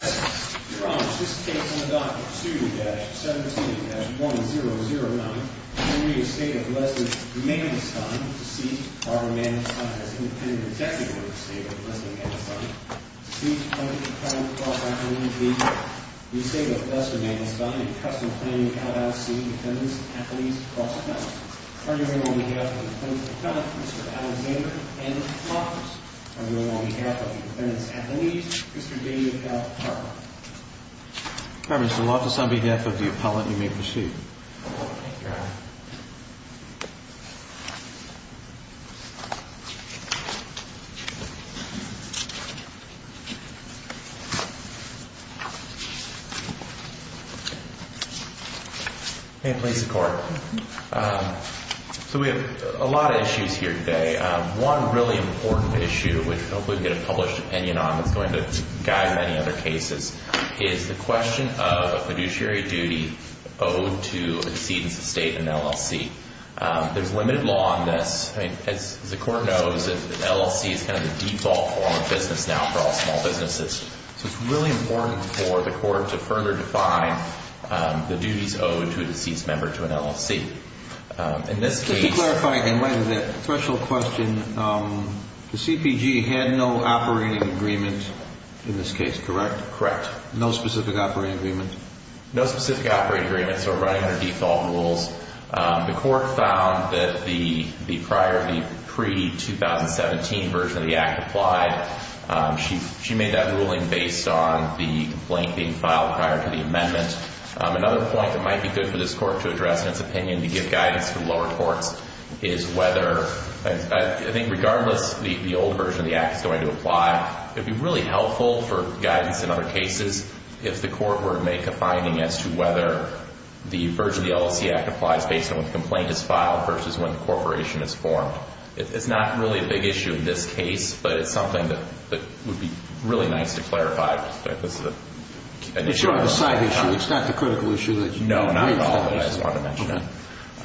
Deceased or Mandelstein as independent executive of the State of Lesley Mandelstein. Deceased, plaintiff, defendant, cross-athlete, defendant. Estate of Lesley Mandelstein, in custom planning, out-of-state, defendants, athletes, cross-athletes. On your own behalf, on the plaintiff's account, Mr. Alexander N. Hoffers. On your own behalf, on the defendant's athlete, Mr. David F. Hoffers. All right, Mr. Hoffers, on behalf of the appellant, you may proceed. Thank you, Your Honor. May it please the Court. So we have a lot of issues here today. One really important issue, which hopefully we'll get a published opinion on that's going to guide many other cases, is the question of a fiduciary duty owed to a deceased estate in an LLC. There's limited law on this. As the Court knows, an LLC is kind of the default form of business now for all small businesses. So it's really important for the Court to further define the duties owed to a deceased member to an LLC. In this case— Just to clarify again, in light of that threshold question, the CPG had no operating agreement in this case, correct? Correct. No specific operating agreement? No specific operating agreement, so running under default rules. The Court found that the prior, the pre-2017 version of the Act applied. She made that ruling based on the complaint being filed prior to the amendment. Another point that might be good for this Court to address in its opinion to give guidance to the lower courts is whether— I think regardless the old version of the Act is going to apply, it would be really helpful for guidance in other cases if the Court were to make a finding as to whether the version of the LLC Act applies based on when the complaint is filed versus when the corporation is formed. It's not really a big issue in this case, but it's something that would be really nice to clarify. It's not a side issue. It's not the critical issue that you— No, not at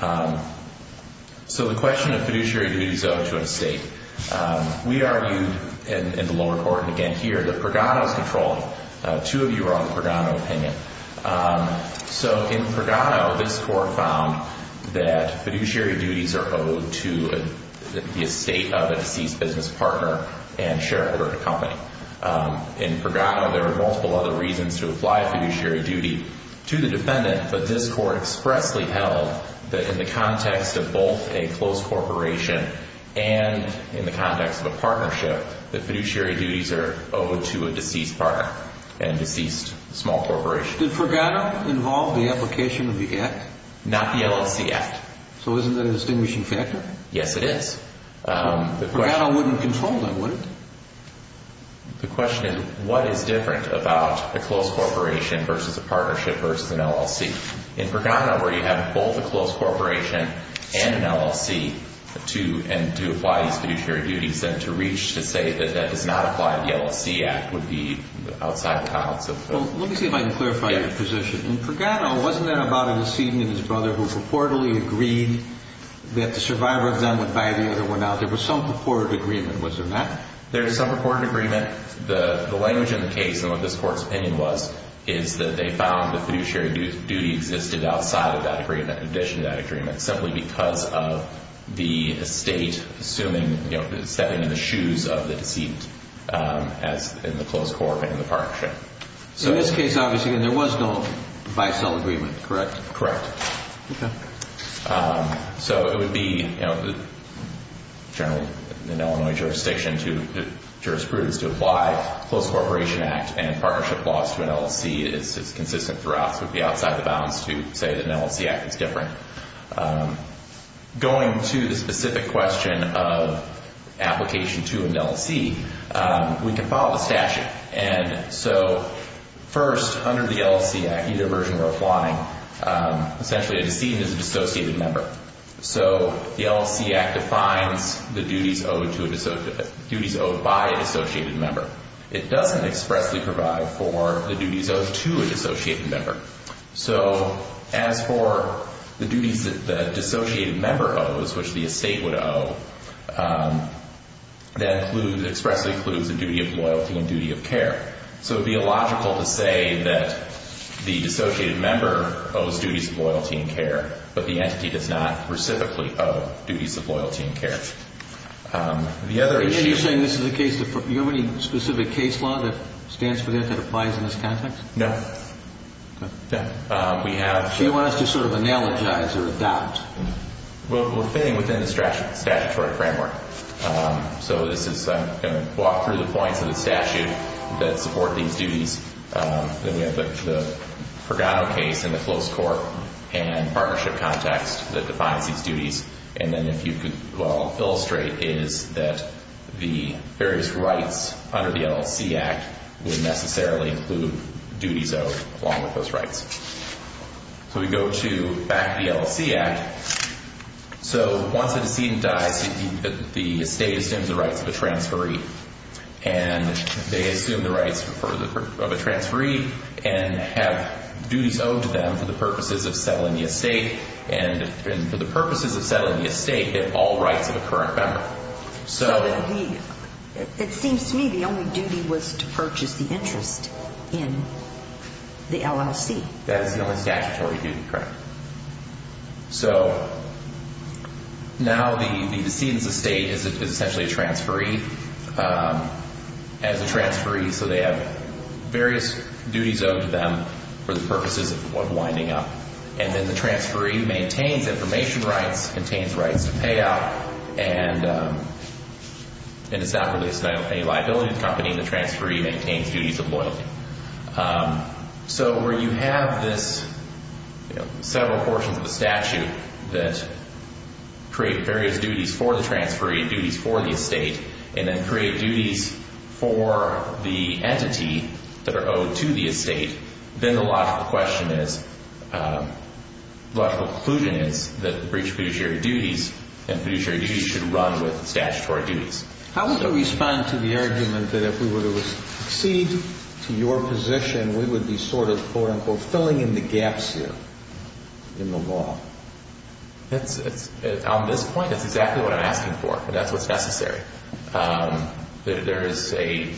all. So the question of fiduciary duties owed to an estate. We argued in the lower court, and again here, that Pregado is controlling. Two of you are on the Pregado opinion. So in Pregado, this Court found that fiduciary duties are owed to the estate of a deceased business partner and shareholder company. In Pregado, there were multiple other reasons to apply fiduciary duty to the defendant, but this Court expressly held that in the context of both a close corporation and in the context of a partnership, that fiduciary duties are owed to a deceased partner and deceased small corporation. Did Pregado involve the application of the Act? Not the LLC Act. So isn't that a distinguishing factor? Yes, it is. Pregado wouldn't control that, would it? The question is, what is different about a close corporation versus a partnership versus an LLC? In Pregado, where you have both a close corporation and an LLC to apply these fiduciary duties, then to reach to say that that does not apply to the LLC Act would be outside the bounds of— Well, let me see if I can clarify your position. In Pregado, wasn't that about a decedent and his brother who reportedly agreed that the survivor of them would buy the other one out? There was some purported agreement. Was there not? There is some purported agreement. The language in the case and what this Court's opinion was, is that they found the fiduciary duty existed outside of that agreement, in addition to that agreement, simply because of the estate assuming, you know, stepping in the shoes of the deceased as in the close corporation and the partnership. So in this case, obviously, there was no bisel agreement, correct? Correct. Okay. So it would be, you know, generally in Illinois jurisdiction to— jurisprudence to apply Close Corporation Act and partnership laws to an LLC is consistent throughout, so it would be outside the bounds to say that an LLC Act is different. Going to the specific question of application to an LLC, we can follow the statute. So first, under the LLC Act, either version or applying, essentially a decedent is a dissociated member. So the LLC Act defines the duties owed by a dissociated member. It doesn't expressly provide for the duties owed to a dissociated member. So as for the duties that the dissociated member owes, which the estate would owe, that expressly includes the duty of loyalty and duty of care. So it would be illogical to say that the dissociated member owes duties of loyalty and care, but the entity does not specifically owe duties of loyalty and care. The other issue— Are you saying this is a case that—you have any specific case law that stands for that, that applies in this context? No. No. We have— So you want us to sort of analogize or adopt? We're fitting within the statutory framework. So this is—I'm going to walk through the points of the statute that support these duties. Then we have the Pregado case in the close court and partnership context that defines these duties. And then if you could, well, illustrate is that the various rights under the LLC Act would necessarily include duties owed along with those rights. So we go to back of the LLC Act. So once a decedent dies, the estate assumes the rights of a transferee, and they assume the rights of a transferee and have duties owed to them for the purposes of settling the estate, and for the purposes of settling the estate, they have all rights of a current member. So it seems to me the only duty was to purchase the interest in the LLC. That is the only statutory duty, correct. So now the decedent's estate is essentially a transferee. As a transferee, so they have various duties owed to them for the purposes of winding up. And then the transferee maintains information rights, contains rights to pay out, and it's not related to any liability of the company. The transferee maintains duties of loyalty. So where you have this several portions of the statute that create various duties for the transferee, duties for the estate, and then create duties for the entity that are owed to the estate, then the logical question is, logical conclusion is that the breach of fiduciary duties, and fiduciary duties should run with statutory duties. How would I respond to the argument that if we were to succeed to your position, we would be sort of, quote, unquote, filling in the gaps here in the law? On this point, that's exactly what I'm asking for. That's what's necessary. There is a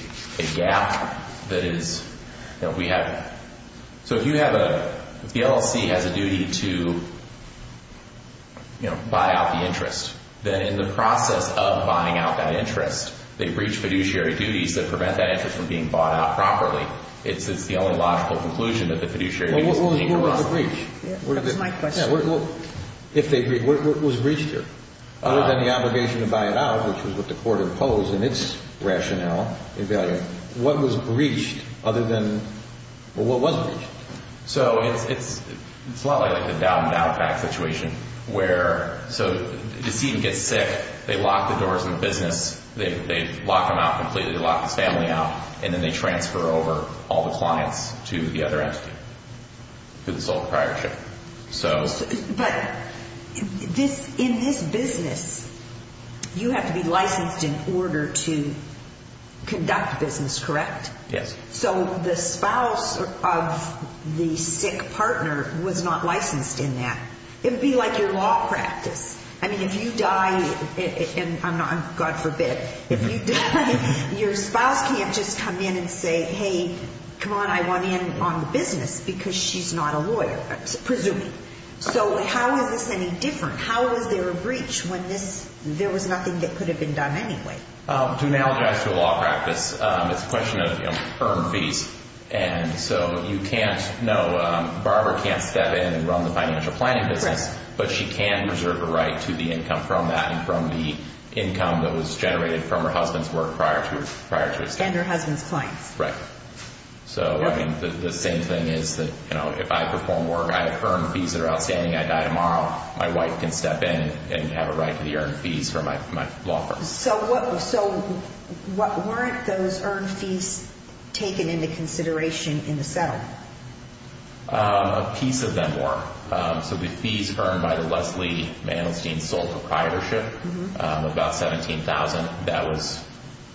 gap that is, you know, we have, so if you have a, if the LLC has a duty to, you know, buy out the interest, then in the process of buying out that interest, they breach fiduciary duties that prevent that interest from being bought out properly. It's the only logical conclusion that the fiduciary duties need to run. Well, what was the breach? That's my question. Yeah, well, if they, what was breached here? Other than the obligation to buy it out, which was what the court imposed in its rationale, what was breached other than, well, what was breached? So it's a lot like the down and out back situation where, so the decedent gets sick, they lock the doors in the business, they lock them out completely, they lock this family out, and then they transfer over all the clients to the other entity, to the sole proprietorship. But in this business, you have to be licensed in order to conduct business, correct? Yes. So the spouse of the sick partner was not licensed in that. It would be like your law practice. I mean, if you die, and God forbid, if you die, your spouse can't just come in and say, hey, come on, I want in on the business because she's not a lawyer, presuming. So how is this any different? How is there a breach when this, there was nothing that could have been done anyway? To analogize to a law practice, it's a question of, you know, firm fees. And so you can't, no, Barbara can't step in and run the financial planning business, but she can reserve a right to the income from that and from the income that was generated from her husband's work prior to his death. And her husband's clients. Right. So, I mean, the same thing is that, you know, if I perform work, I have earned fees that are outstanding, I die tomorrow, my wife can step in and have a right to the earned fees from my law firm. So what weren't those earned fees taken into consideration in the settlement? A piece of them were. So the fees earned by the Leslie Manelstein sole proprietorship, about $17,000, that was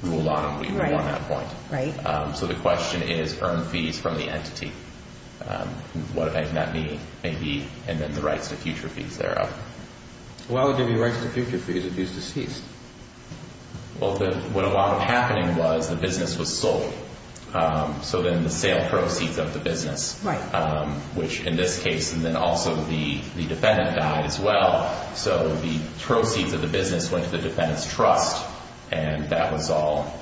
ruled on and we were on that point. Right. So the question is earned fees from the entity. What does that mean? And then the rights to future fees thereof. Why would there be rights to future fees if he's deceased? Well, what ended up happening was the business was sold. So then the sale proceeds of the business, which in this case, and then also the defendant died as well. So the proceeds of the business went to the defendant's trust, and that was all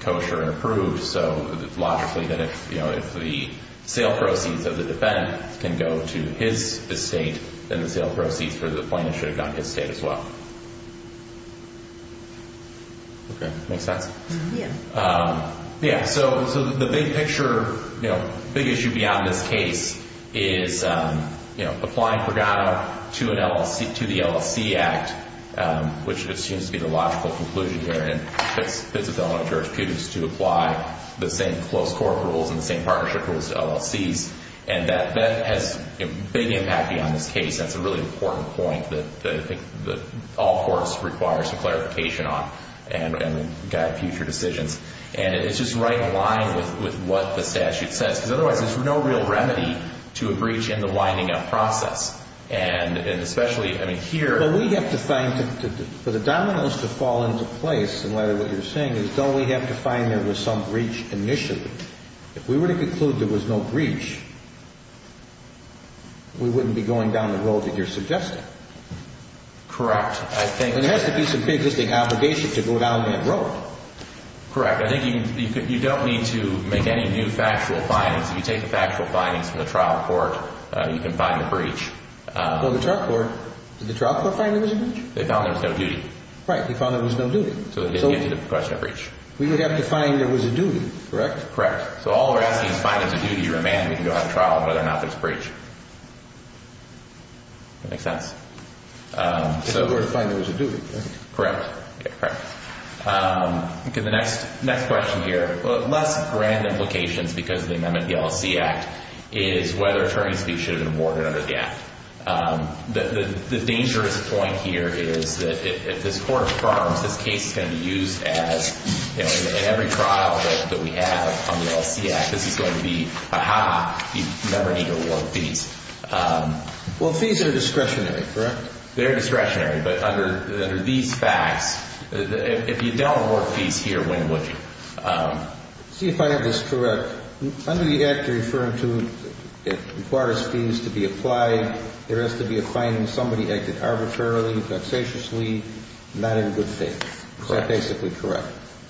kosher and approved. So logically, you know, if the sale proceeds of the defendant can go to his estate, then the sale proceeds for the plaintiff should have gone to his estate as well. Okay. Make sense? Yeah. Yeah. And then applying Pregado to the LLC Act, which seems to be the logical conclusion here and fits with the element of jurisprudence, to apply the same close court rules and the same partnership rules to LLCs. And that has a big impact beyond this case. That's a really important point that all courts require some clarification on and guide future decisions. And it's just right in line with what the statute says, because otherwise there's no real remedy to a breach in the winding up process. And especially, I mean, here. But we have to find, for the dominoes to fall into place, and Larry, what you're saying is don't we have to find there was some breach initially. If we were to conclude there was no breach, we wouldn't be going down the road that you're suggesting. Correct. There has to be some big listing obligation to go down that road. Correct. All right. I think you don't need to make any new factual findings. If you take the factual findings from the trial court, you can find the breach. Well, the trial court, did the trial court find there was a breach? They found there was no duty. Right. They found there was no duty. So they didn't get to the question of breach. We would have to find there was a duty, correct? Correct. So all we're asking is find there was a duty or a mandate to go out on trial on whether or not there was a breach. That make sense? If we were to find there was a duty, right? Correct. Yeah, correct. Okay, the next question here. Less grand implications because of the amendment of the LLC Act is whether attorney's fees should have been awarded under the Act. The dangerous point here is that if this court affirms this case is going to be used as, you know, in every trial that we have on the LLC Act, this is going to be, ah-ha, you never need to award fees. Well, fees are discretionary, correct? They're discretionary. But under these facts, if you don't award fees here, when would you? See, if I have this correct, under the Act you're referring to, it requires fees to be applied. There has to be a finding somebody acted arbitrarily, vexatiously, not in good faith. Correct. So basically correct.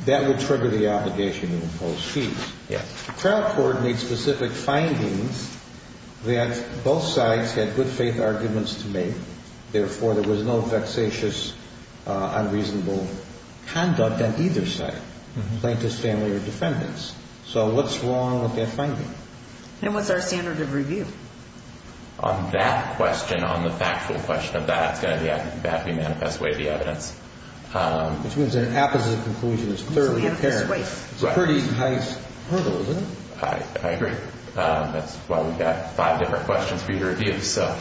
That would trigger the obligation to impose fees. Yes. The trial court made specific findings that both sides had good faith arguments to make. Therefore, there was no vexatious, unreasonable conduct on either side. Plaintiffs, family, or defendants. So what's wrong with that finding? And what's our standard of review? On that question, on the factual question of that, it's going to have to be manifest way, the evidence. Which means an apposite conclusion is clearly apparent. It's a manifest way. It's a pretty nice hurdle, isn't it? I agree. That's why we've got five different questions for you to review. So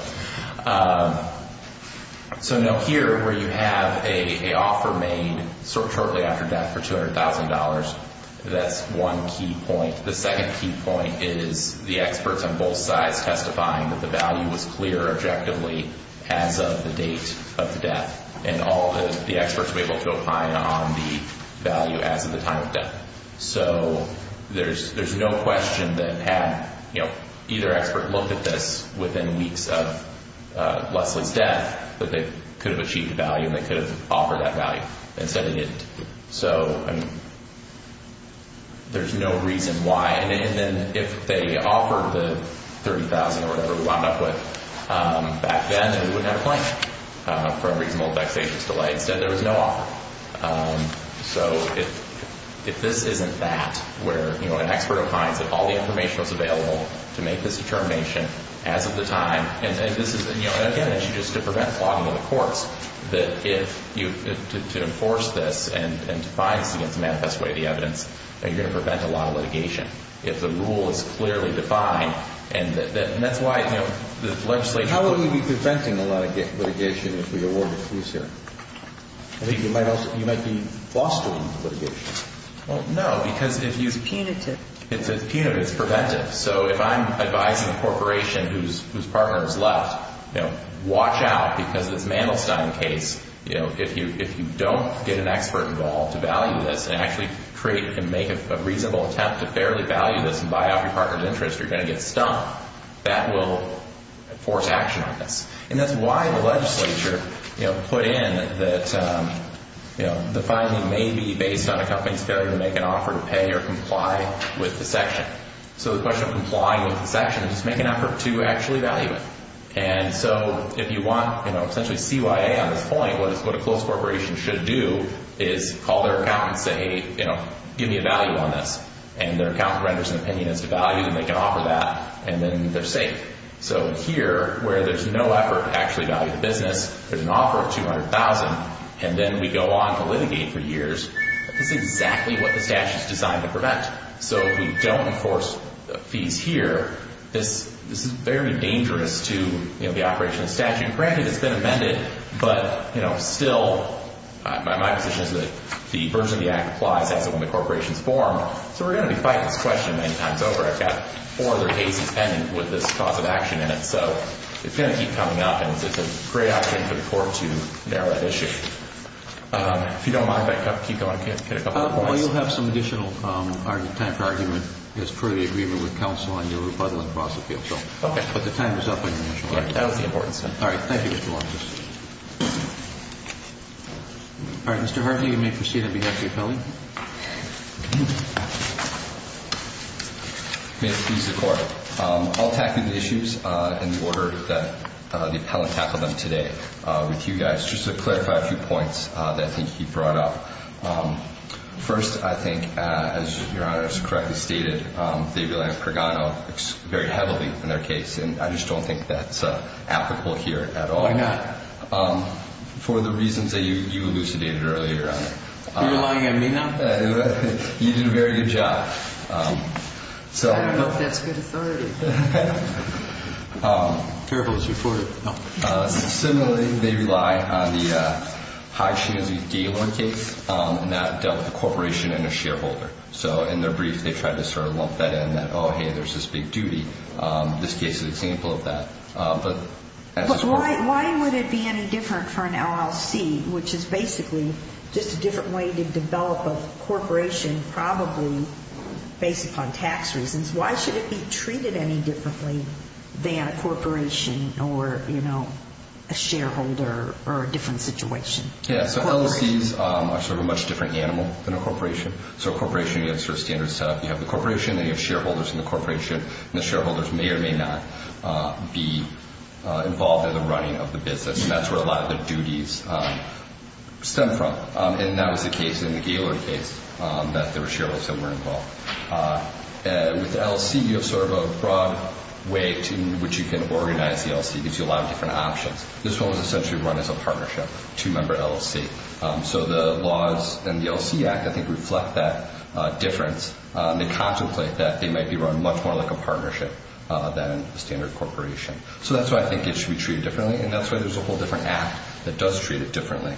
now here, where you have an offer made shortly after death for $200,000, that's one key point. The second key point is the experts on both sides testifying that the value was clear objectively as of the date of the death. And all the experts were able to opine on the value as of the time of death. So there's no question that had either expert look at this within weeks of Leslie's death that they could have achieved the value. And they could have offered that value. Instead, they didn't. So there's no reason why. And then if they offered the $30,000 or whatever we wound up with back then, then we wouldn't have a plaintiff for unreasonable vexatious delay. Instead, there was no offer. So if this isn't that, where an expert opines that all the information was available to make this determination as of the time. And again, it's just to prevent flogging of the courts, that to enforce this and to find this against the manifest way of the evidence, you're going to prevent a lot of litigation. If the rule is clearly defined, and that's why the legislature. How will we be preventing a lot of litigation if we award a case here? I think you might be fostering litigation. Well, no, because if you. It's punitive. It's punitive. It's preventive. So if I'm advising a corporation whose partner is left, watch out because this Mandelstein case, if you don't get an expert involved to value this and actually create and make a reasonable attempt to fairly value this and buy out your partner's interest, you're going to get stumped. That will force action on this. And that's why the legislature put in that the filing may be based on a company's failure to make an offer to pay or comply with the section. So the question of complying with the section is make an effort to actually value it. And so if you want essentially CYA on this point, what a close corporation should do is call their accountant and say, give me a value on this. And their accountant renders an opinion as to value, and they can offer that, and then they're safe. So here, where there's no effort to actually value the business, there's an offer of $200,000, and then we go on to litigate for years, this is exactly what the statute is designed to prevent. So we don't enforce fees here. And granted, it's been amended, but still, my position is that the version of the act applies as and when the corporations form. So we're going to be fighting this question many times over. I've got four other cases pending with this cause of action in it. So it's going to keep coming up, and it's a great opportunity for the court to narrow that issue. If you don't mind, if I can keep going and get a couple more points. Well, you'll have some additional time for argument as per the agreement with counsel on your rebuttal and cross appeal. Okay. But the time is up on your initial argument. That was the important stuff. All right. Thank you, Mr. Long. All right, Mr. Hartley, you may proceed on behalf of the appellant. May it please the Court. I'll tackle the issues in the order that the appellant tackled them today with you guys, just to clarify a few points that I think he brought up. First, I think, as Your Honor has correctly stated, they rely on Pregano very heavily in their case, and I just don't think that's applicable here at all. Why not? For the reasons that you elucidated earlier. You're lying on me now? You did a very good job. I don't know if that's good authority. Careful, it's your 40th. Similarly, they rely on the Hodgkin v. Gaylord case, and that dealt with a corporation and a shareholder. So in their brief, they tried to sort of lump that in, that, oh, hey, there's this big duty. This case is an example of that. Why would it be any different for an LLC, which is basically just a different way to develop a corporation, probably based upon tax reasons? Why should it be treated any differently than a corporation or a shareholder or a different situation? Yeah, so LLCs are sort of a much different animal than a corporation. So a corporation, you have sort of standards set up. You have the corporation and you have shareholders in the corporation, and the shareholders may or may not be involved in the running of the business, and that's where a lot of their duties stem from. And that was the case in the Gaylord case that there were shareholders that were involved. With the LLC, you have sort of a broad way in which you can organize the LLC. It gives you a lot of different options. This one was essentially run as a partnership, two-member LLC. So the laws in the LLC Act, I think, reflect that difference. They contemplate that they might be run much more like a partnership than a standard corporation. So that's why I think it should be treated differently, and that's why there's a whole different Act that does treat it differently.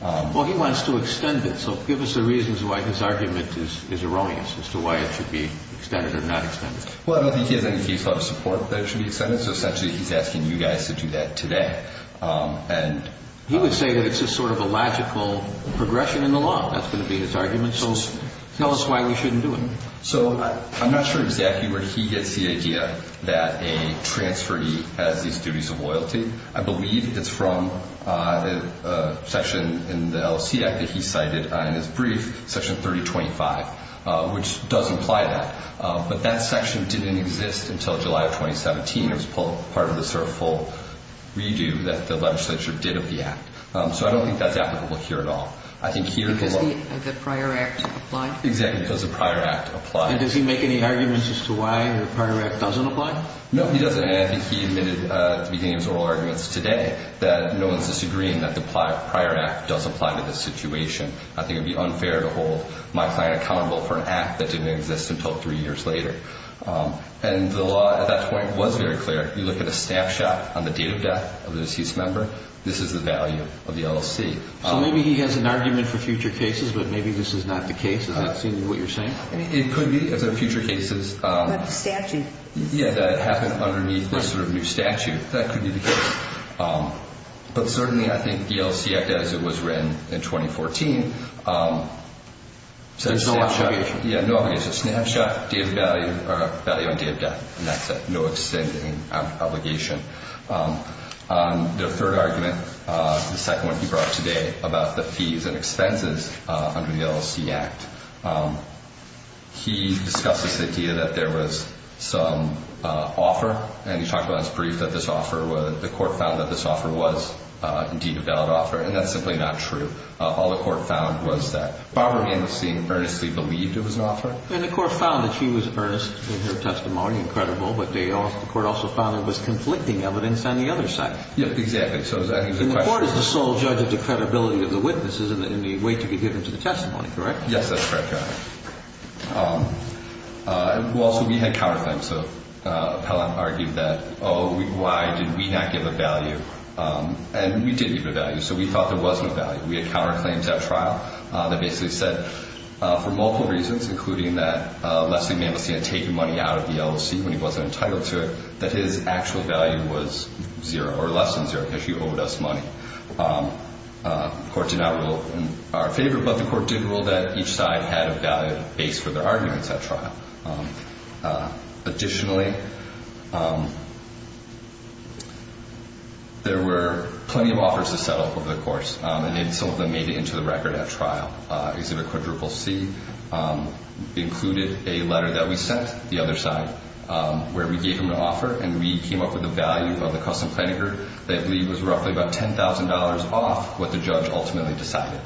Well, he wants to extend it, so give us the reasons why his argument is erroneous as to why it should be extended or not extended. Well, I don't think he has any case law to support that it should be extended, so essentially he's asking you guys to do that today. He would say that it's just sort of a logical progression in the law. That's going to be his argument, so tell us why we shouldn't do it. So I'm not sure exactly where he gets the idea that a transferee has these duties of loyalty. I believe it's from a section in the LLC Act that he cited in his brief, Section 3025, which does imply that. But that section didn't exist until July of 2017. It was part of the sort of full redo that the legislature did of the Act. So I don't think that's applicable here at all. Because the prior Act applied? Exactly, because the prior Act applied. And does he make any arguments as to why the prior Act doesn't apply? No, he doesn't, and I think he admitted at the beginning of his oral arguments today that no one's disagreeing that the prior Act does apply to this situation. I think it would be unfair to hold my client accountable for an Act that didn't exist until three years later. And the law at that point was very clear. If you look at a snapshot on the date of death of the deceased member, this is the value of the LLC. So maybe he has an argument for future cases, but maybe this is not the case. Does that seem to be what you're saying? It could be. If there are future cases that happen underneath this sort of new statute, that could be the case. But certainly I think the LLC Act, as it was written in 2014, says snapshot, value on date of death. And that's a no-extending obligation. The third argument, the second one he brought up today, about the fees and expenses under the LLC Act, he discussed this idea that there was some offer, and he talked about his brief that this offer was, the court found that this offer was indeed a valid offer, and that's simply not true. All the court found was that Barbara Amosine earnestly believed it was an offer. And the court found that she was earnest in her testimony and credible, but the court also found there was conflicting evidence on the other side. Yes, exactly. And the court is the sole judge of the credibility of the witnesses and the weight to be given to the testimony, correct? Yes, that's correct, Your Honor. Well, so we had counterclaims. Appellant argued that, oh, why did we not give a value? And we did give a value, so we thought there wasn't a value. We had counterclaims at trial that basically said, for multiple reasons, including that Leslie Amosine had taken money out of the LLC when he wasn't entitled to it, that his actual value was zero, or less than zero, because she owed us money. The court did not rule in our favor, but the court did rule that each side had a valid base for their arguments at trial. Additionally, there were plenty of offers to settle over the course, and some of them made it into the record at trial. Exhibit CCCC included a letter that we sent, the other side, where we gave him an offer, and we came up with a value of the custom plaintiff that we considered that leave was roughly about $10,000 off what the judge ultimately decided.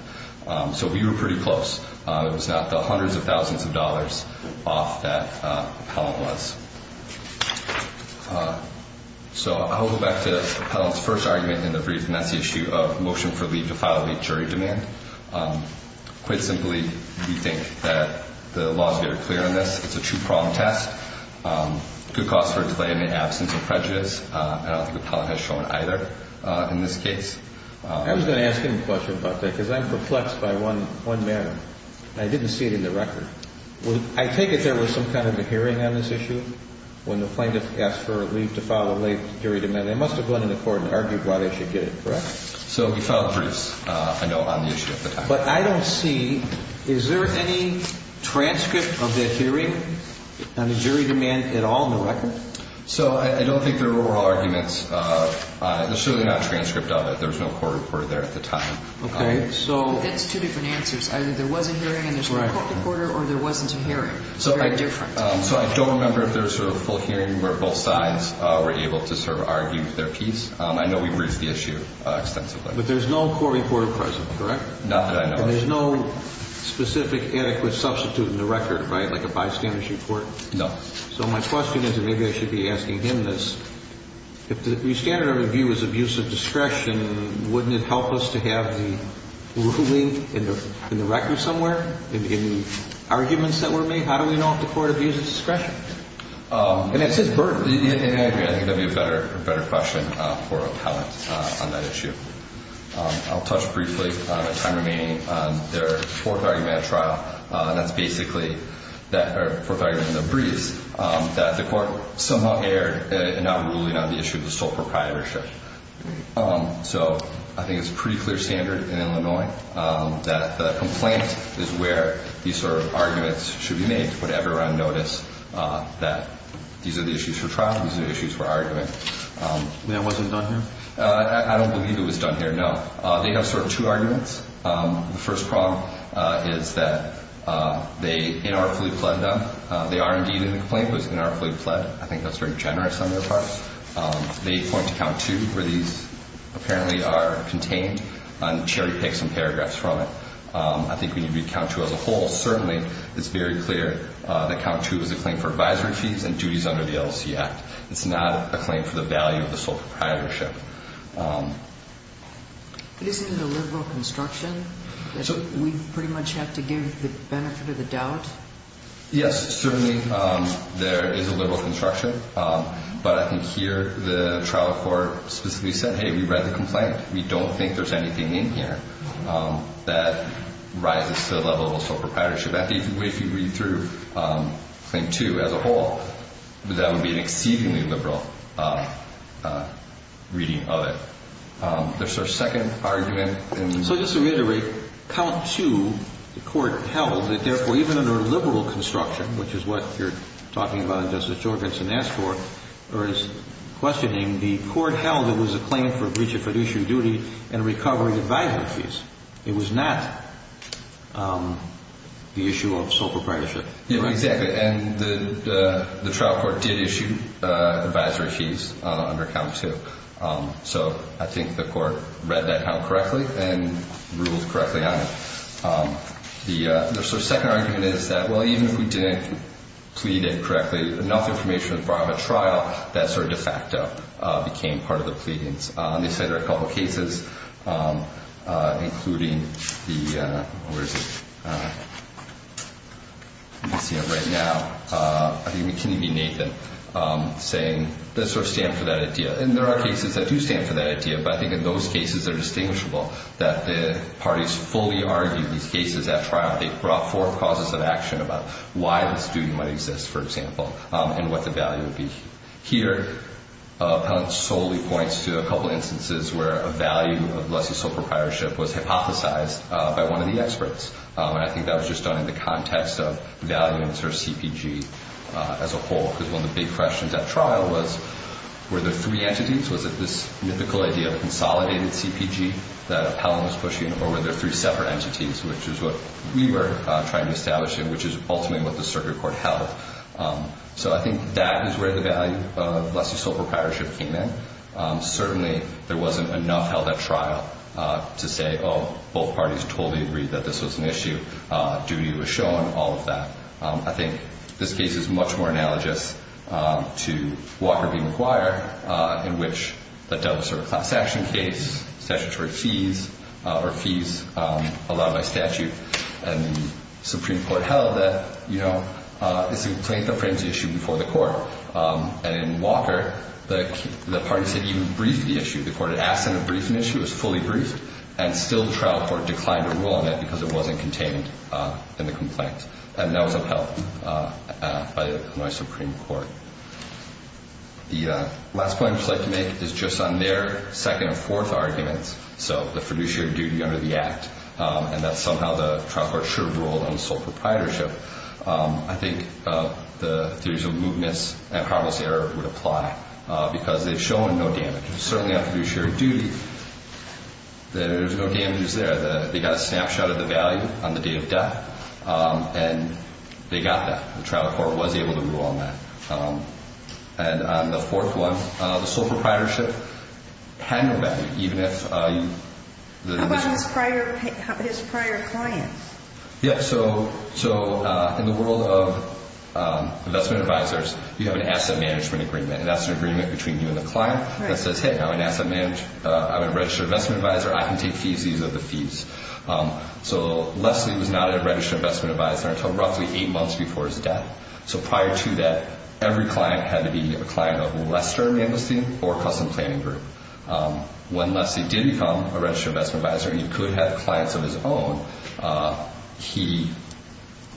So we were pretty close. It was not the hundreds of thousands of dollars off that appellant was. So I'll go back to the appellant's first argument in the brief, and that's the issue of motion for leave to file a jury demand. Quite simply, we think that the law is very clear on this. It's a true problem test. Good cause for delay in the absence of prejudice. I don't think the appellant has shown either in this case. I was going to ask him a question about that because I'm perplexed by one matter, and I didn't see it in the record. I take it there was some kind of a hearing on this issue when the plaintiff asked for a leave to file a jury demand. They must have gone into court and argued why they should get it, correct? So he filed a brief, I know, on the issue at the time. But I don't see, is there any transcript of that hearing on the jury demand at all in the record? So I don't think there were all arguments. There's certainly not a transcript of it. There was no court reporter there at the time. Okay. It's two different answers. Either there was a hearing and there's no court reporter, or there wasn't a hearing, so very different. So I don't remember if there's a full hearing where both sides were able to sort of argue their piece. I know we've reached the issue extensively. But there's no court reporter present, correct? Not that I know of. And there's no specific adequate substitute in the record, right, like a bystander's report? No. So my question is, and maybe I should be asking him this, if the standard of review is abuse of discretion, wouldn't it help us to have the ruling in the record somewhere in arguments that were made? How do we know if the court abuses discretion? And that's his burden. I agree. I think that would be a better question for a palate on that issue. I'll touch briefly on the time remaining on their fourth argument at trial, and that's basically the fourth argument in the briefs, that the court somehow erred in not ruling on the issue of the sole proprietorship. So I think it's a pretty clear standard in Illinois that the complaint is where these sort of arguments should be made to put everyone on notice that these are the issues for trial, these are the issues for argument. That wasn't done here? I don't believe it was done here, no. They have sort of two arguments. The first problem is that they inarticulately pled them. They are indeed in the complaint, but it's inarticulately pled. I think that's very generous on their part. They point to Count 2, where these apparently are contained, and Cherry picked some paragraphs from it. I think when you read Count 2 as a whole, certainly it's very clear that Count 2 is a claim for advisory fees and duties under the LLC Act. It's not a claim for the value of the sole proprietorship. Isn't it a liberal construction? We pretty much have to give the benefit of the doubt? Yes, certainly there is a liberal construction, but I think here the trial court specifically said, hey, we read the complaint. We don't think there's anything in here that rises to the level of a sole proprietorship. If you read through Claim 2 as a whole, that would be an exceedingly liberal reading of it. There's a second argument. So just to reiterate, Count 2, the court held, that therefore even under a liberal construction, which is what you're talking about and Justice Jorgensen asked for, or is questioning, the court held it was a claim for breach of fiduciary duty and recovery advisory fees. It was not the issue of sole proprietorship. Exactly. And the trial court did issue advisory fees under Count 2. So I think the court read that out correctly and ruled correctly on it. The second argument is that, well, even if we didn't plead it correctly, enough information was brought on the trial that sort of de facto became part of the pleadings. They cited a couple of cases, including the, where is it, I can't see it right now, I think McKinney v. Nathan, saying they sort of stand for that idea. And there are cases that do stand for that idea, but I think in those cases they're distinguishable, that the parties fully argued these cases at trial. They brought forth causes of action about why this duty might exist, for example, and what the value would be. Here, Appellant solely points to a couple of instances where a value of lessee sole proprietorship was hypothesized by one of the experts. And I think that was just done in the context of value and sort of CPG as a whole, because one of the big questions at trial was, were there three entities? Was it this mythical idea of a consolidated CPG that Appellant was pushing, or were there three separate entities, which is what we were trying to establish and which is ultimately what the circuit court held. So I think that is where the value of lessee sole proprietorship came in. Certainly there wasn't enough held at trial to say, oh, both parties totally agreed that this was an issue, duty was shown, all of that. I think this case is much more analogous to Walker v. McGuire, in which the devil served class action case, statutory fees, or fees allowed by statute, and the Supreme Court held that, you know, the plaintiff frames the issue before the court. And in Walker, the parties had even briefed the issue. The court had asked them to brief an issue, it was fully briefed, and still the trial court declined to rule on that because it wasn't contained in the complaint. And that was upheld by my Supreme Court. The last point I would just like to make is just on their second and fourth arguments, so the fiduciary duty under the Act, and that somehow the trial court should have ruled on sole proprietorship. I think the theories of mootness and harmless error would apply because they've shown no damage. Certainly on fiduciary duty, there's no damages there. They got a snapshot of the value on the day of death, and they got that. The trial court was able to rule on that. And on the fourth one, the sole proprietorship had no value, even if you – How about his prior clients? Yeah, so in the world of investment advisors, you have an asset management agreement, and that's an agreement between you and the client that says, hey, I'm an asset manager, I'm a registered investment advisor, I can take fees, these are the fees. So Leslie was not a registered investment advisor until roughly eight months before his death. So prior to that, every client had to be a client of Lester Manlestein or Custom Planning Group. When Leslie did become a registered investment advisor, he could have clients of his own. He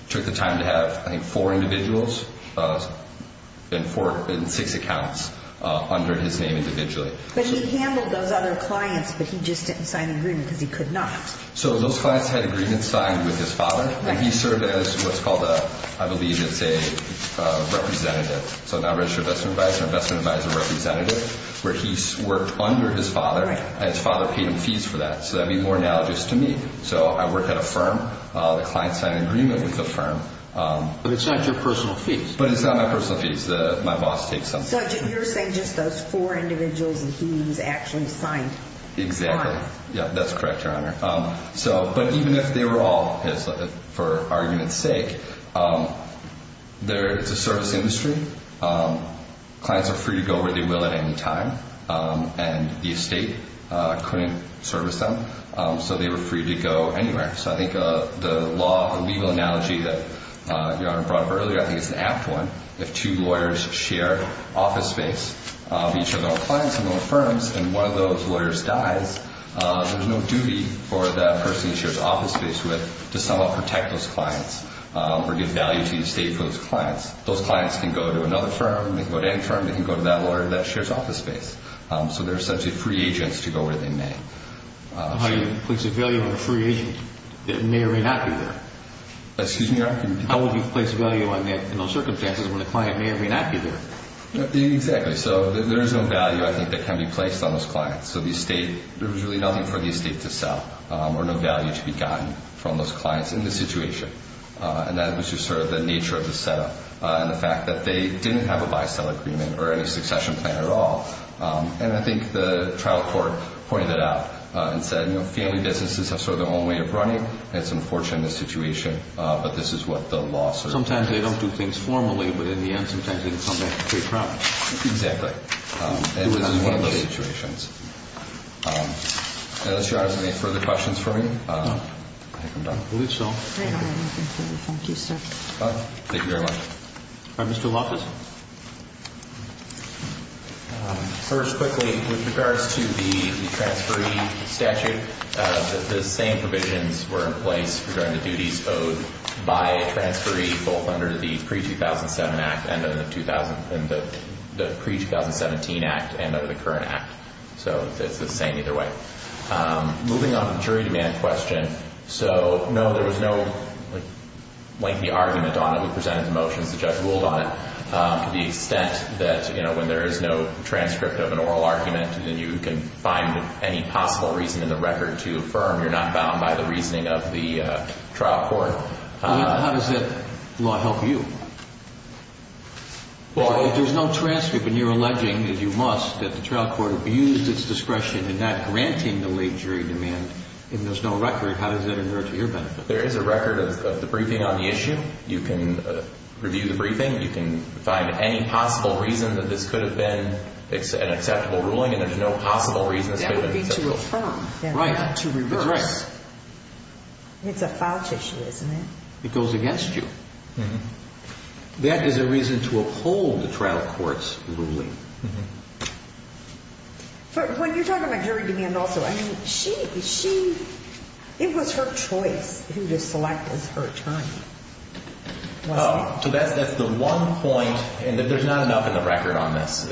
took the time to have, I think, four individuals and six accounts under his name individually. But he handled those other clients, but he just didn't sign the agreement because he could not. So those clients had agreements signed with his father, and he served as what's called a – I believe it's a representative. So a non-registered investment advisor, investment advisor representative, where he worked under his father, and his father paid him fees for that. So that would be more analogous to me. So I work at a firm. The client signed an agreement with the firm. But it's not your personal fees. But it's not my personal fees. My boss takes them. So you're saying just those four individuals that he actually signed. Exactly. Signed. Yeah, that's correct, Your Honor. But even if they were all his, for argument's sake, it's a service industry. Clients are free to go where they will at any time. And the estate couldn't service them. So they were free to go anywhere. So I think the law, the legal analogy that Your Honor brought up earlier, I think it's an apt one. If two lawyers share office space, each of them a client, each of them a firm, and one of those lawyers dies, there's no duty for that person he shares office space with to somehow protect those clients or give value to the estate for those clients. Those clients can go to another firm. They can go to any firm. They can go to that lawyer that shares office space. So they're essentially free agents to go where they may. How do you place a value on a free agent that may or may not be there? Excuse me, Your Honor? How would you place a value in those circumstances when a client may or may not be there? Exactly. So there is no value, I think, that can be placed on those clients. So the estate, there was really nothing for the estate to sell or no value to be gotten from those clients in this situation. And that was just sort of the nature of the setup and the fact that they didn't have a buy-sell agreement or any succession plan at all. And I think the trial court pointed that out and said, you know, family businesses have sort of their own way of running. It's unfortunate in this situation, but this is what the law says. Sometimes they don't do things formally, but in the end, sometimes they can come back with great profits. Exactly. And this is one of those situations. And that's Your Honor. Is there any further questions for me? I think I'm done. I believe so. Thank you. Thank you, sir. Thank you very much. All right. Mr. Lopez? First, quickly, with regards to the transferee statute, the same provisions were in place regarding the duties owed by a transferee, both under the pre-2007 act and under the current act. So it's the same either way. Moving on to the jury demand question. So, no, there was no lengthy argument on it. We presented the motions. The judge ruled on it to the extent that, you know, when there is no transcript of an oral argument, then you can find any possible reason in the record to affirm you're not bound by the reasoning of the trial court. How does that law help you? If there's no transcript and you're alleging that you must, that the trial court abused its discretion in not granting the late jury demand and there's no record, how does that invert to your benefit? There is a record of the briefing on the issue. You can review the briefing. You can find any possible reason that this could have been an acceptable ruling, and there's no possible reason it's been an acceptable ruling. That would be to affirm. Right. Not to reverse. It's a foul tissue, isn't it? It goes against you. That is a reason to uphold the trial court's ruling. But when you're talking about jury demand also, I mean, she, she, it was her choice who to select as her attorney, wasn't it? So that's the one point, and there's not enough in the record on this,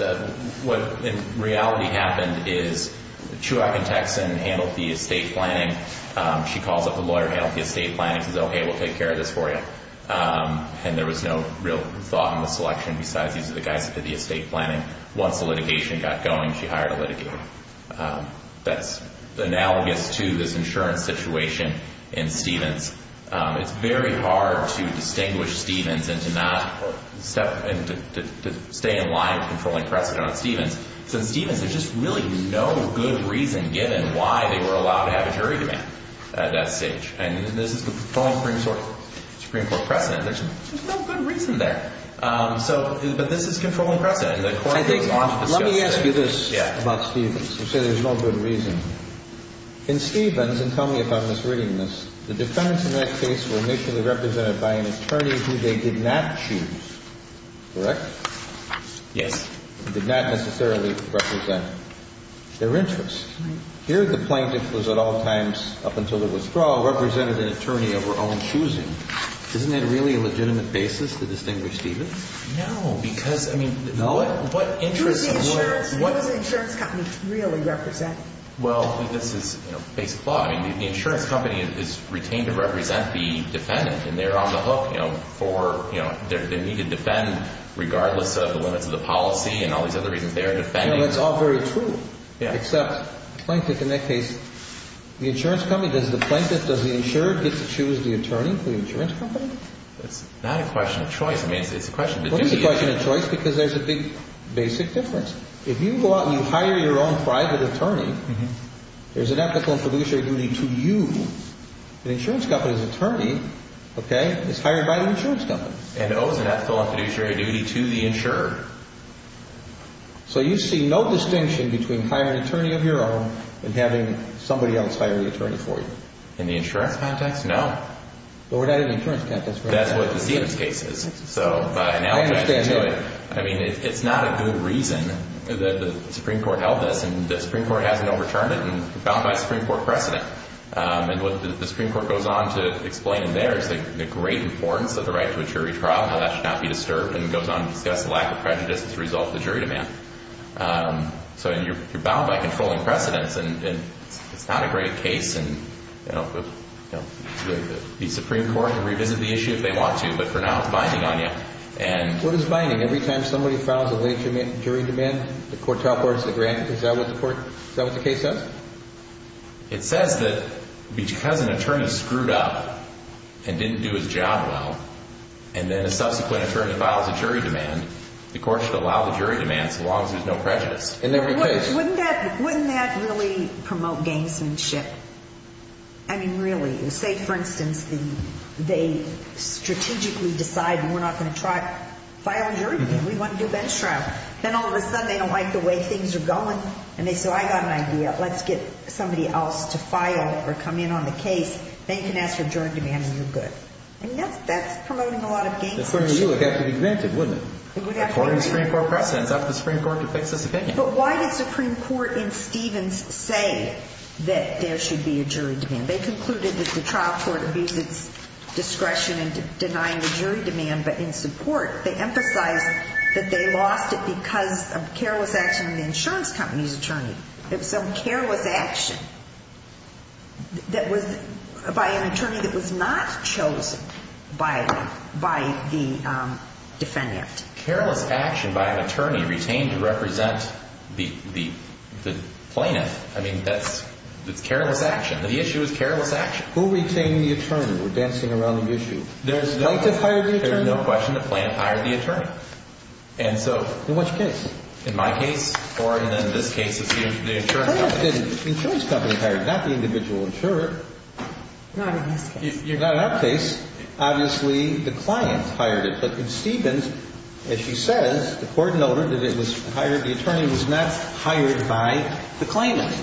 what in reality happened is Chuak and Texan handled the estate planning. She calls up the lawyer, handled the estate planning, and says, okay, we'll take care of this for you. And there was no real thought in the selection besides these are the guys that did the estate planning. Once the litigation got going, she hired a litigator. That's analogous to this insurance situation in Stevens. It's very hard to distinguish Stevens and to not, to stay in line with the controlling precedent on Stevens. So in Stevens, there's just really no good reason given why they were allowed to have a jury demand at that stage. And this is the controlling Supreme Court precedent. There's no good reason there. So, but this is controlling precedent. Let me ask you this about Stevens. You say there's no good reason. In Stevens, and tell me if I'm misreading this, the defendants in that case were initially represented by an attorney who they did not choose, correct? Yes. They did not necessarily represent their interests. Here, the plaintiff was at all times, up until the withdrawal, represented an attorney of her own choosing. Isn't that really a legitimate basis to distinguish Stevens? No, because, I mean, what interests the lawyer? Who does the insurance company really represent? Well, this is, you know, basic law. I mean, the insurance company is retained to represent the defendant, and they're on the hook, you know, for, you know, they need to defend regardless of the limits of the policy and all these other reasons they are defending. You know, that's all very true. Yeah. Except the plaintiff in that case, the insurance company, does the plaintiff, does the insurer get to choose the attorney for the insurance company? That's not a question of choice. I mean, it's a question of definition. Well, it is a question of choice because there's a big basic difference. If you go out and you hire your own private attorney, there's an ethical and fiduciary duty to you, and the insurance company's attorney, okay, is hired by the insurance company. And owes an ethical and fiduciary duty to the insurer. So you see no distinction between hiring an attorney of your own and having somebody else hire the attorney for you. In the insurance context, no. But we're not in the insurance context, right? That's what the Stevens case is. So by analogizing to it, I mean, it's not a good reason that the Supreme Court held this, and the Supreme Court hasn't overturned it and found by Supreme Court precedent. And what the Supreme Court goes on to explain there is the great importance of the right to a jury trial, how that should not be disturbed, and it goes on to discuss the lack of prejudice as a result of the jury demand. So you're bound by controlling precedents, and it's not a great case. And, you know, the Supreme Court can revisit the issue if they want to, but for now it's binding on you. What is binding? Every time somebody files a late jury demand, the court teleports the grant. Is that what the case says? It says that because an attorney screwed up and didn't do his job well, and then a subsequent attorney files a jury demand, the court should allow the jury demand so long as there's no prejudice. Wouldn't that really promote gamesmanship? I mean, really. Say, for instance, they strategically decide we're not going to file a jury demand. We want to do a bench trial. Then all of a sudden they don't like the way things are going, and they say, I got an idea. Let's get somebody else to file or come in on the case. Then you can ask for a jury demand and you're good. I mean, that's promoting a lot of gamesmanship. That's where you would have to be granted, wouldn't it? It would have to be granted. According to Supreme Court precedents. That's what the Supreme Court depicts as the case. But why did the Supreme Court in Stevens say that there should be a jury demand? They concluded that the trial court abused its discretion in denying the jury demand, but in support they emphasized that they lost it because of careless action by an insurance company's attorney. It was some careless action by an attorney that was not chosen by the defendant. Careless action by an attorney retained to represent the plaintiff. I mean, that's careless action. The issue is careless action. Who retained the attorney? We're dancing around the issue. The plaintiff hired the attorney? There's no question the plaintiff hired the attorney. In which case? In my case? Or in this case it's the insurance company? The insurance company hired, not the individual insurer. Not in this case. Not in that case. Obviously the client hired it. But in Stevens, as she says, the court noted that it was hired, the attorney was not hired by the claimant.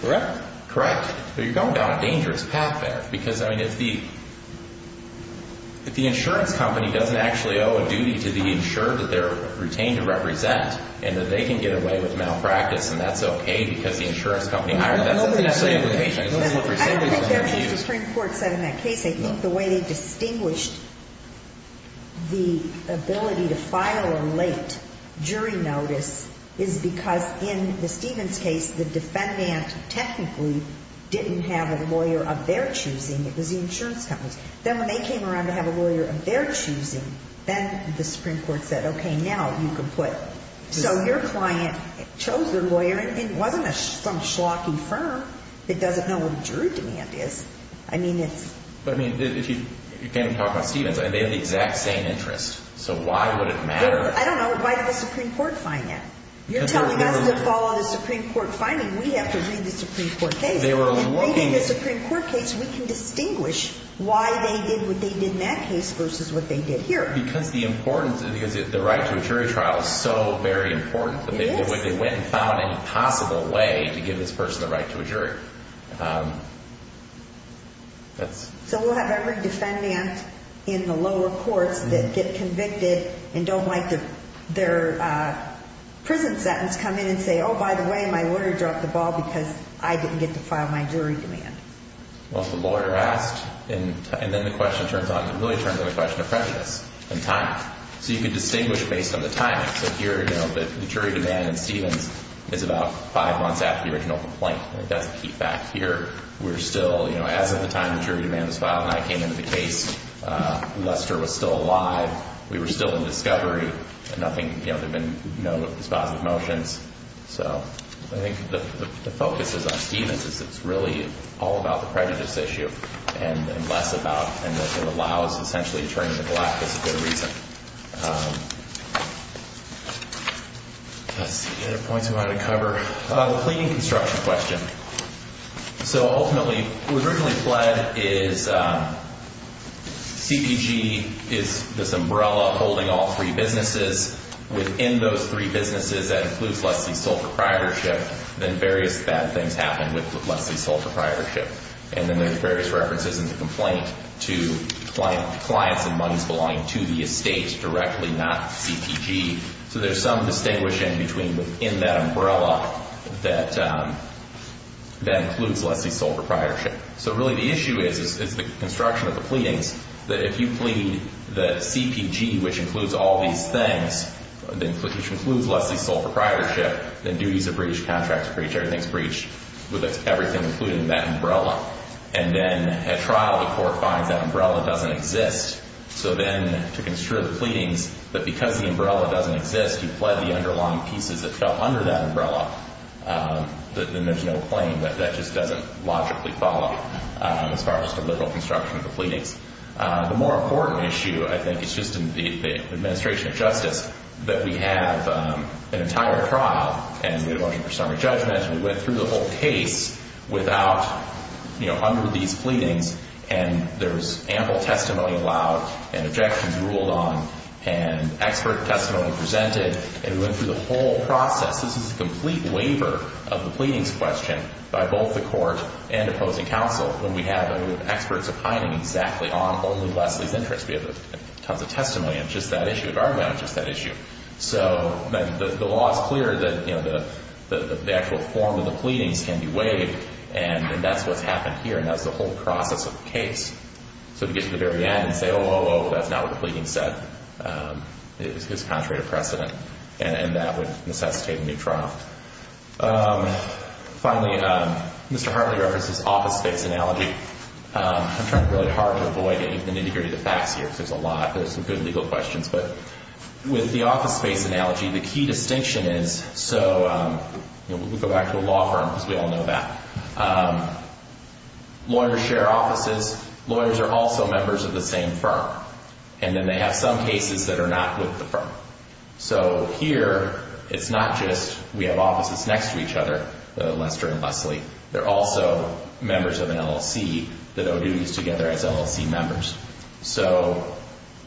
Correct? Correct. There you go. You're down a dangerous path there. Because, I mean, if the insurance company doesn't actually owe a duty to the insurer that they're retained to represent, and that they can get away with malpractice and that's okay because the insurance company hired them, that's essentially a limitation. I don't think there's anything the Supreme Court said in that case. I think the way they distinguished the ability to file a late jury notice is because in the Stevens case the defendant technically didn't have a lawyer of their choosing, it was the insurance company. Then when they came around to have a lawyer of their choosing, then the Supreme Court said, okay, now you can put. So your client chose their lawyer and it wasn't some schlocky firm that doesn't know what a jury demand is. I mean, it's. But, I mean, you can't even talk about Stevens. They have the exact same interest. So why would it matter? I don't know. Why did the Supreme Court find that? You're telling us to follow the Supreme Court finding. We have to read the Supreme Court case. If we read the Supreme Court case, we can distinguish why they did what they did in that case versus what they did here. Because the importance of the right to a jury trial is so very important. When they went and found an impossible way to give this person the right to a jury. So we'll have every defendant in the lower courts that get convicted and don't like their prison sentence come in and say, oh, by the way, my lawyer dropped the ball because I didn't get to file my jury demand. Well, if the lawyer asked, and then the question turns out, it really turns into a question of prejudice and timing. So you can distinguish based on the timing. So here, you know, the jury demand in Stevens is about five months after the original complaint. That's a key fact here. We're still, you know, as of the time the jury demand was filed and I came into the case, Lester was still alive. We were still in discovery. Nothing, you know, there have been no dispositive motions. So I think the focus is on Stevens. It's really all about the prejudice issue and less about and that it allows essentially a train in the black is a good reason. Let's see, points we wanted to cover. The cleaning construction question. So ultimately, what originally fled is CPG is this umbrella holding all three businesses. Within those three businesses that includes Leslie's sole proprietorship, then various bad things happen with Leslie's sole proprietorship. And then there's various references in the complaint to clients and monies belonging to the estate directly, not CPG. So there's some distinguishing between within that umbrella that includes Leslie's sole proprietorship. So really the issue is the construction of the pleadings. That if you plead that CPG, which includes all these things, which includes Leslie's sole proprietorship, then duties are breached, contracts are breached, everything's breached with everything including that umbrella. And then at trial, the court finds that umbrella doesn't exist. So then to construe the pleadings that because the umbrella doesn't exist, you pled the underlying pieces that fell under that umbrella, then there's no claim. That just doesn't logically follow as far as the liberal construction of the pleadings. The more important issue, I think, is just in the administration of justice that we have an entire trial and we're looking for summary judgments. We went through the whole case without, you know, under these pleadings, and there's ample testimony allowed and objections ruled on and expert testimony presented. And we went through the whole process. This is a complete waiver of the pleadings question by both the court and opposing counsel when we have experts opining exactly on only Leslie's interests. We have tons of testimony on just that issue, an argument on just that issue. So the law is clear that, you know, the actual form of the pleadings can be waived, and that's what's happened here, and that's the whole process of the case. So to get to the very end and say, oh, oh, oh, that's not what the pleadings said is contrary to precedent, and that would necessitate a new trial. Finally, Mr. Hartley referenced this office space analogy. I'm trying really hard to avoid it. You're going to need to hear the facts here because there's a lot. There's some good legal questions. But with the office space analogy, the key distinction is so, you know, we'll go back to a law firm because we all know that. Lawyers share offices. Lawyers are also members of the same firm, and then they have some cases that are not with the firm. So here it's not just we have offices next to each other, Lester and Leslie. They're also members of an LLC that owe duties together as LLC members. So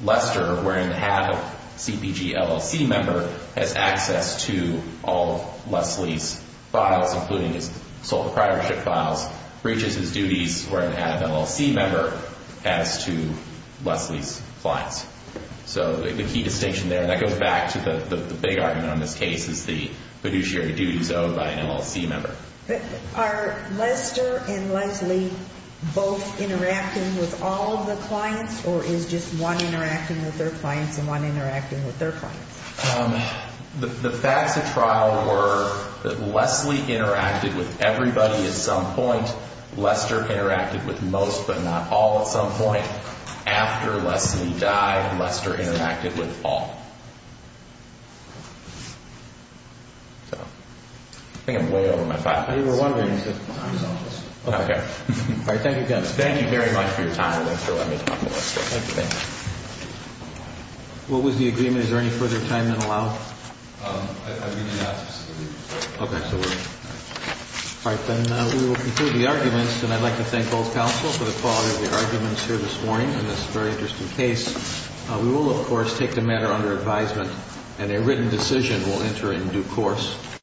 Lester, wearing the hat of CPG LLC member, has access to all of Leslie's files, including his sole proprietorship files, reaches his duties wearing the hat of an LLC member, as to Leslie's clients. So the key distinction there, and that goes back to the big argument on this case, is the fiduciary duties owed by an LLC member. Are Lester and Leslie both interacting with all of the clients, or is just one interacting with their clients and one interacting with their clients? The facts of trial were that Leslie interacted with everybody at some point. Lester interacted with most but not all at some point. After Leslie died, Lester interacted with all. I think I'm way over my time. You were wondering. Okay. All right. Thank you again. Thank you very much for your time. Thanks for letting me talk to Lester. Thank you. What was the agreement? Is there any further time than allowed? I mean, not specifically. Okay. All right. Then we will conclude the arguments, and I'd like to thank both counsel for the quality of the arguments here this morning in this very interesting case. We will, of course, take the matter under advisement, and a written decision will enter in due course.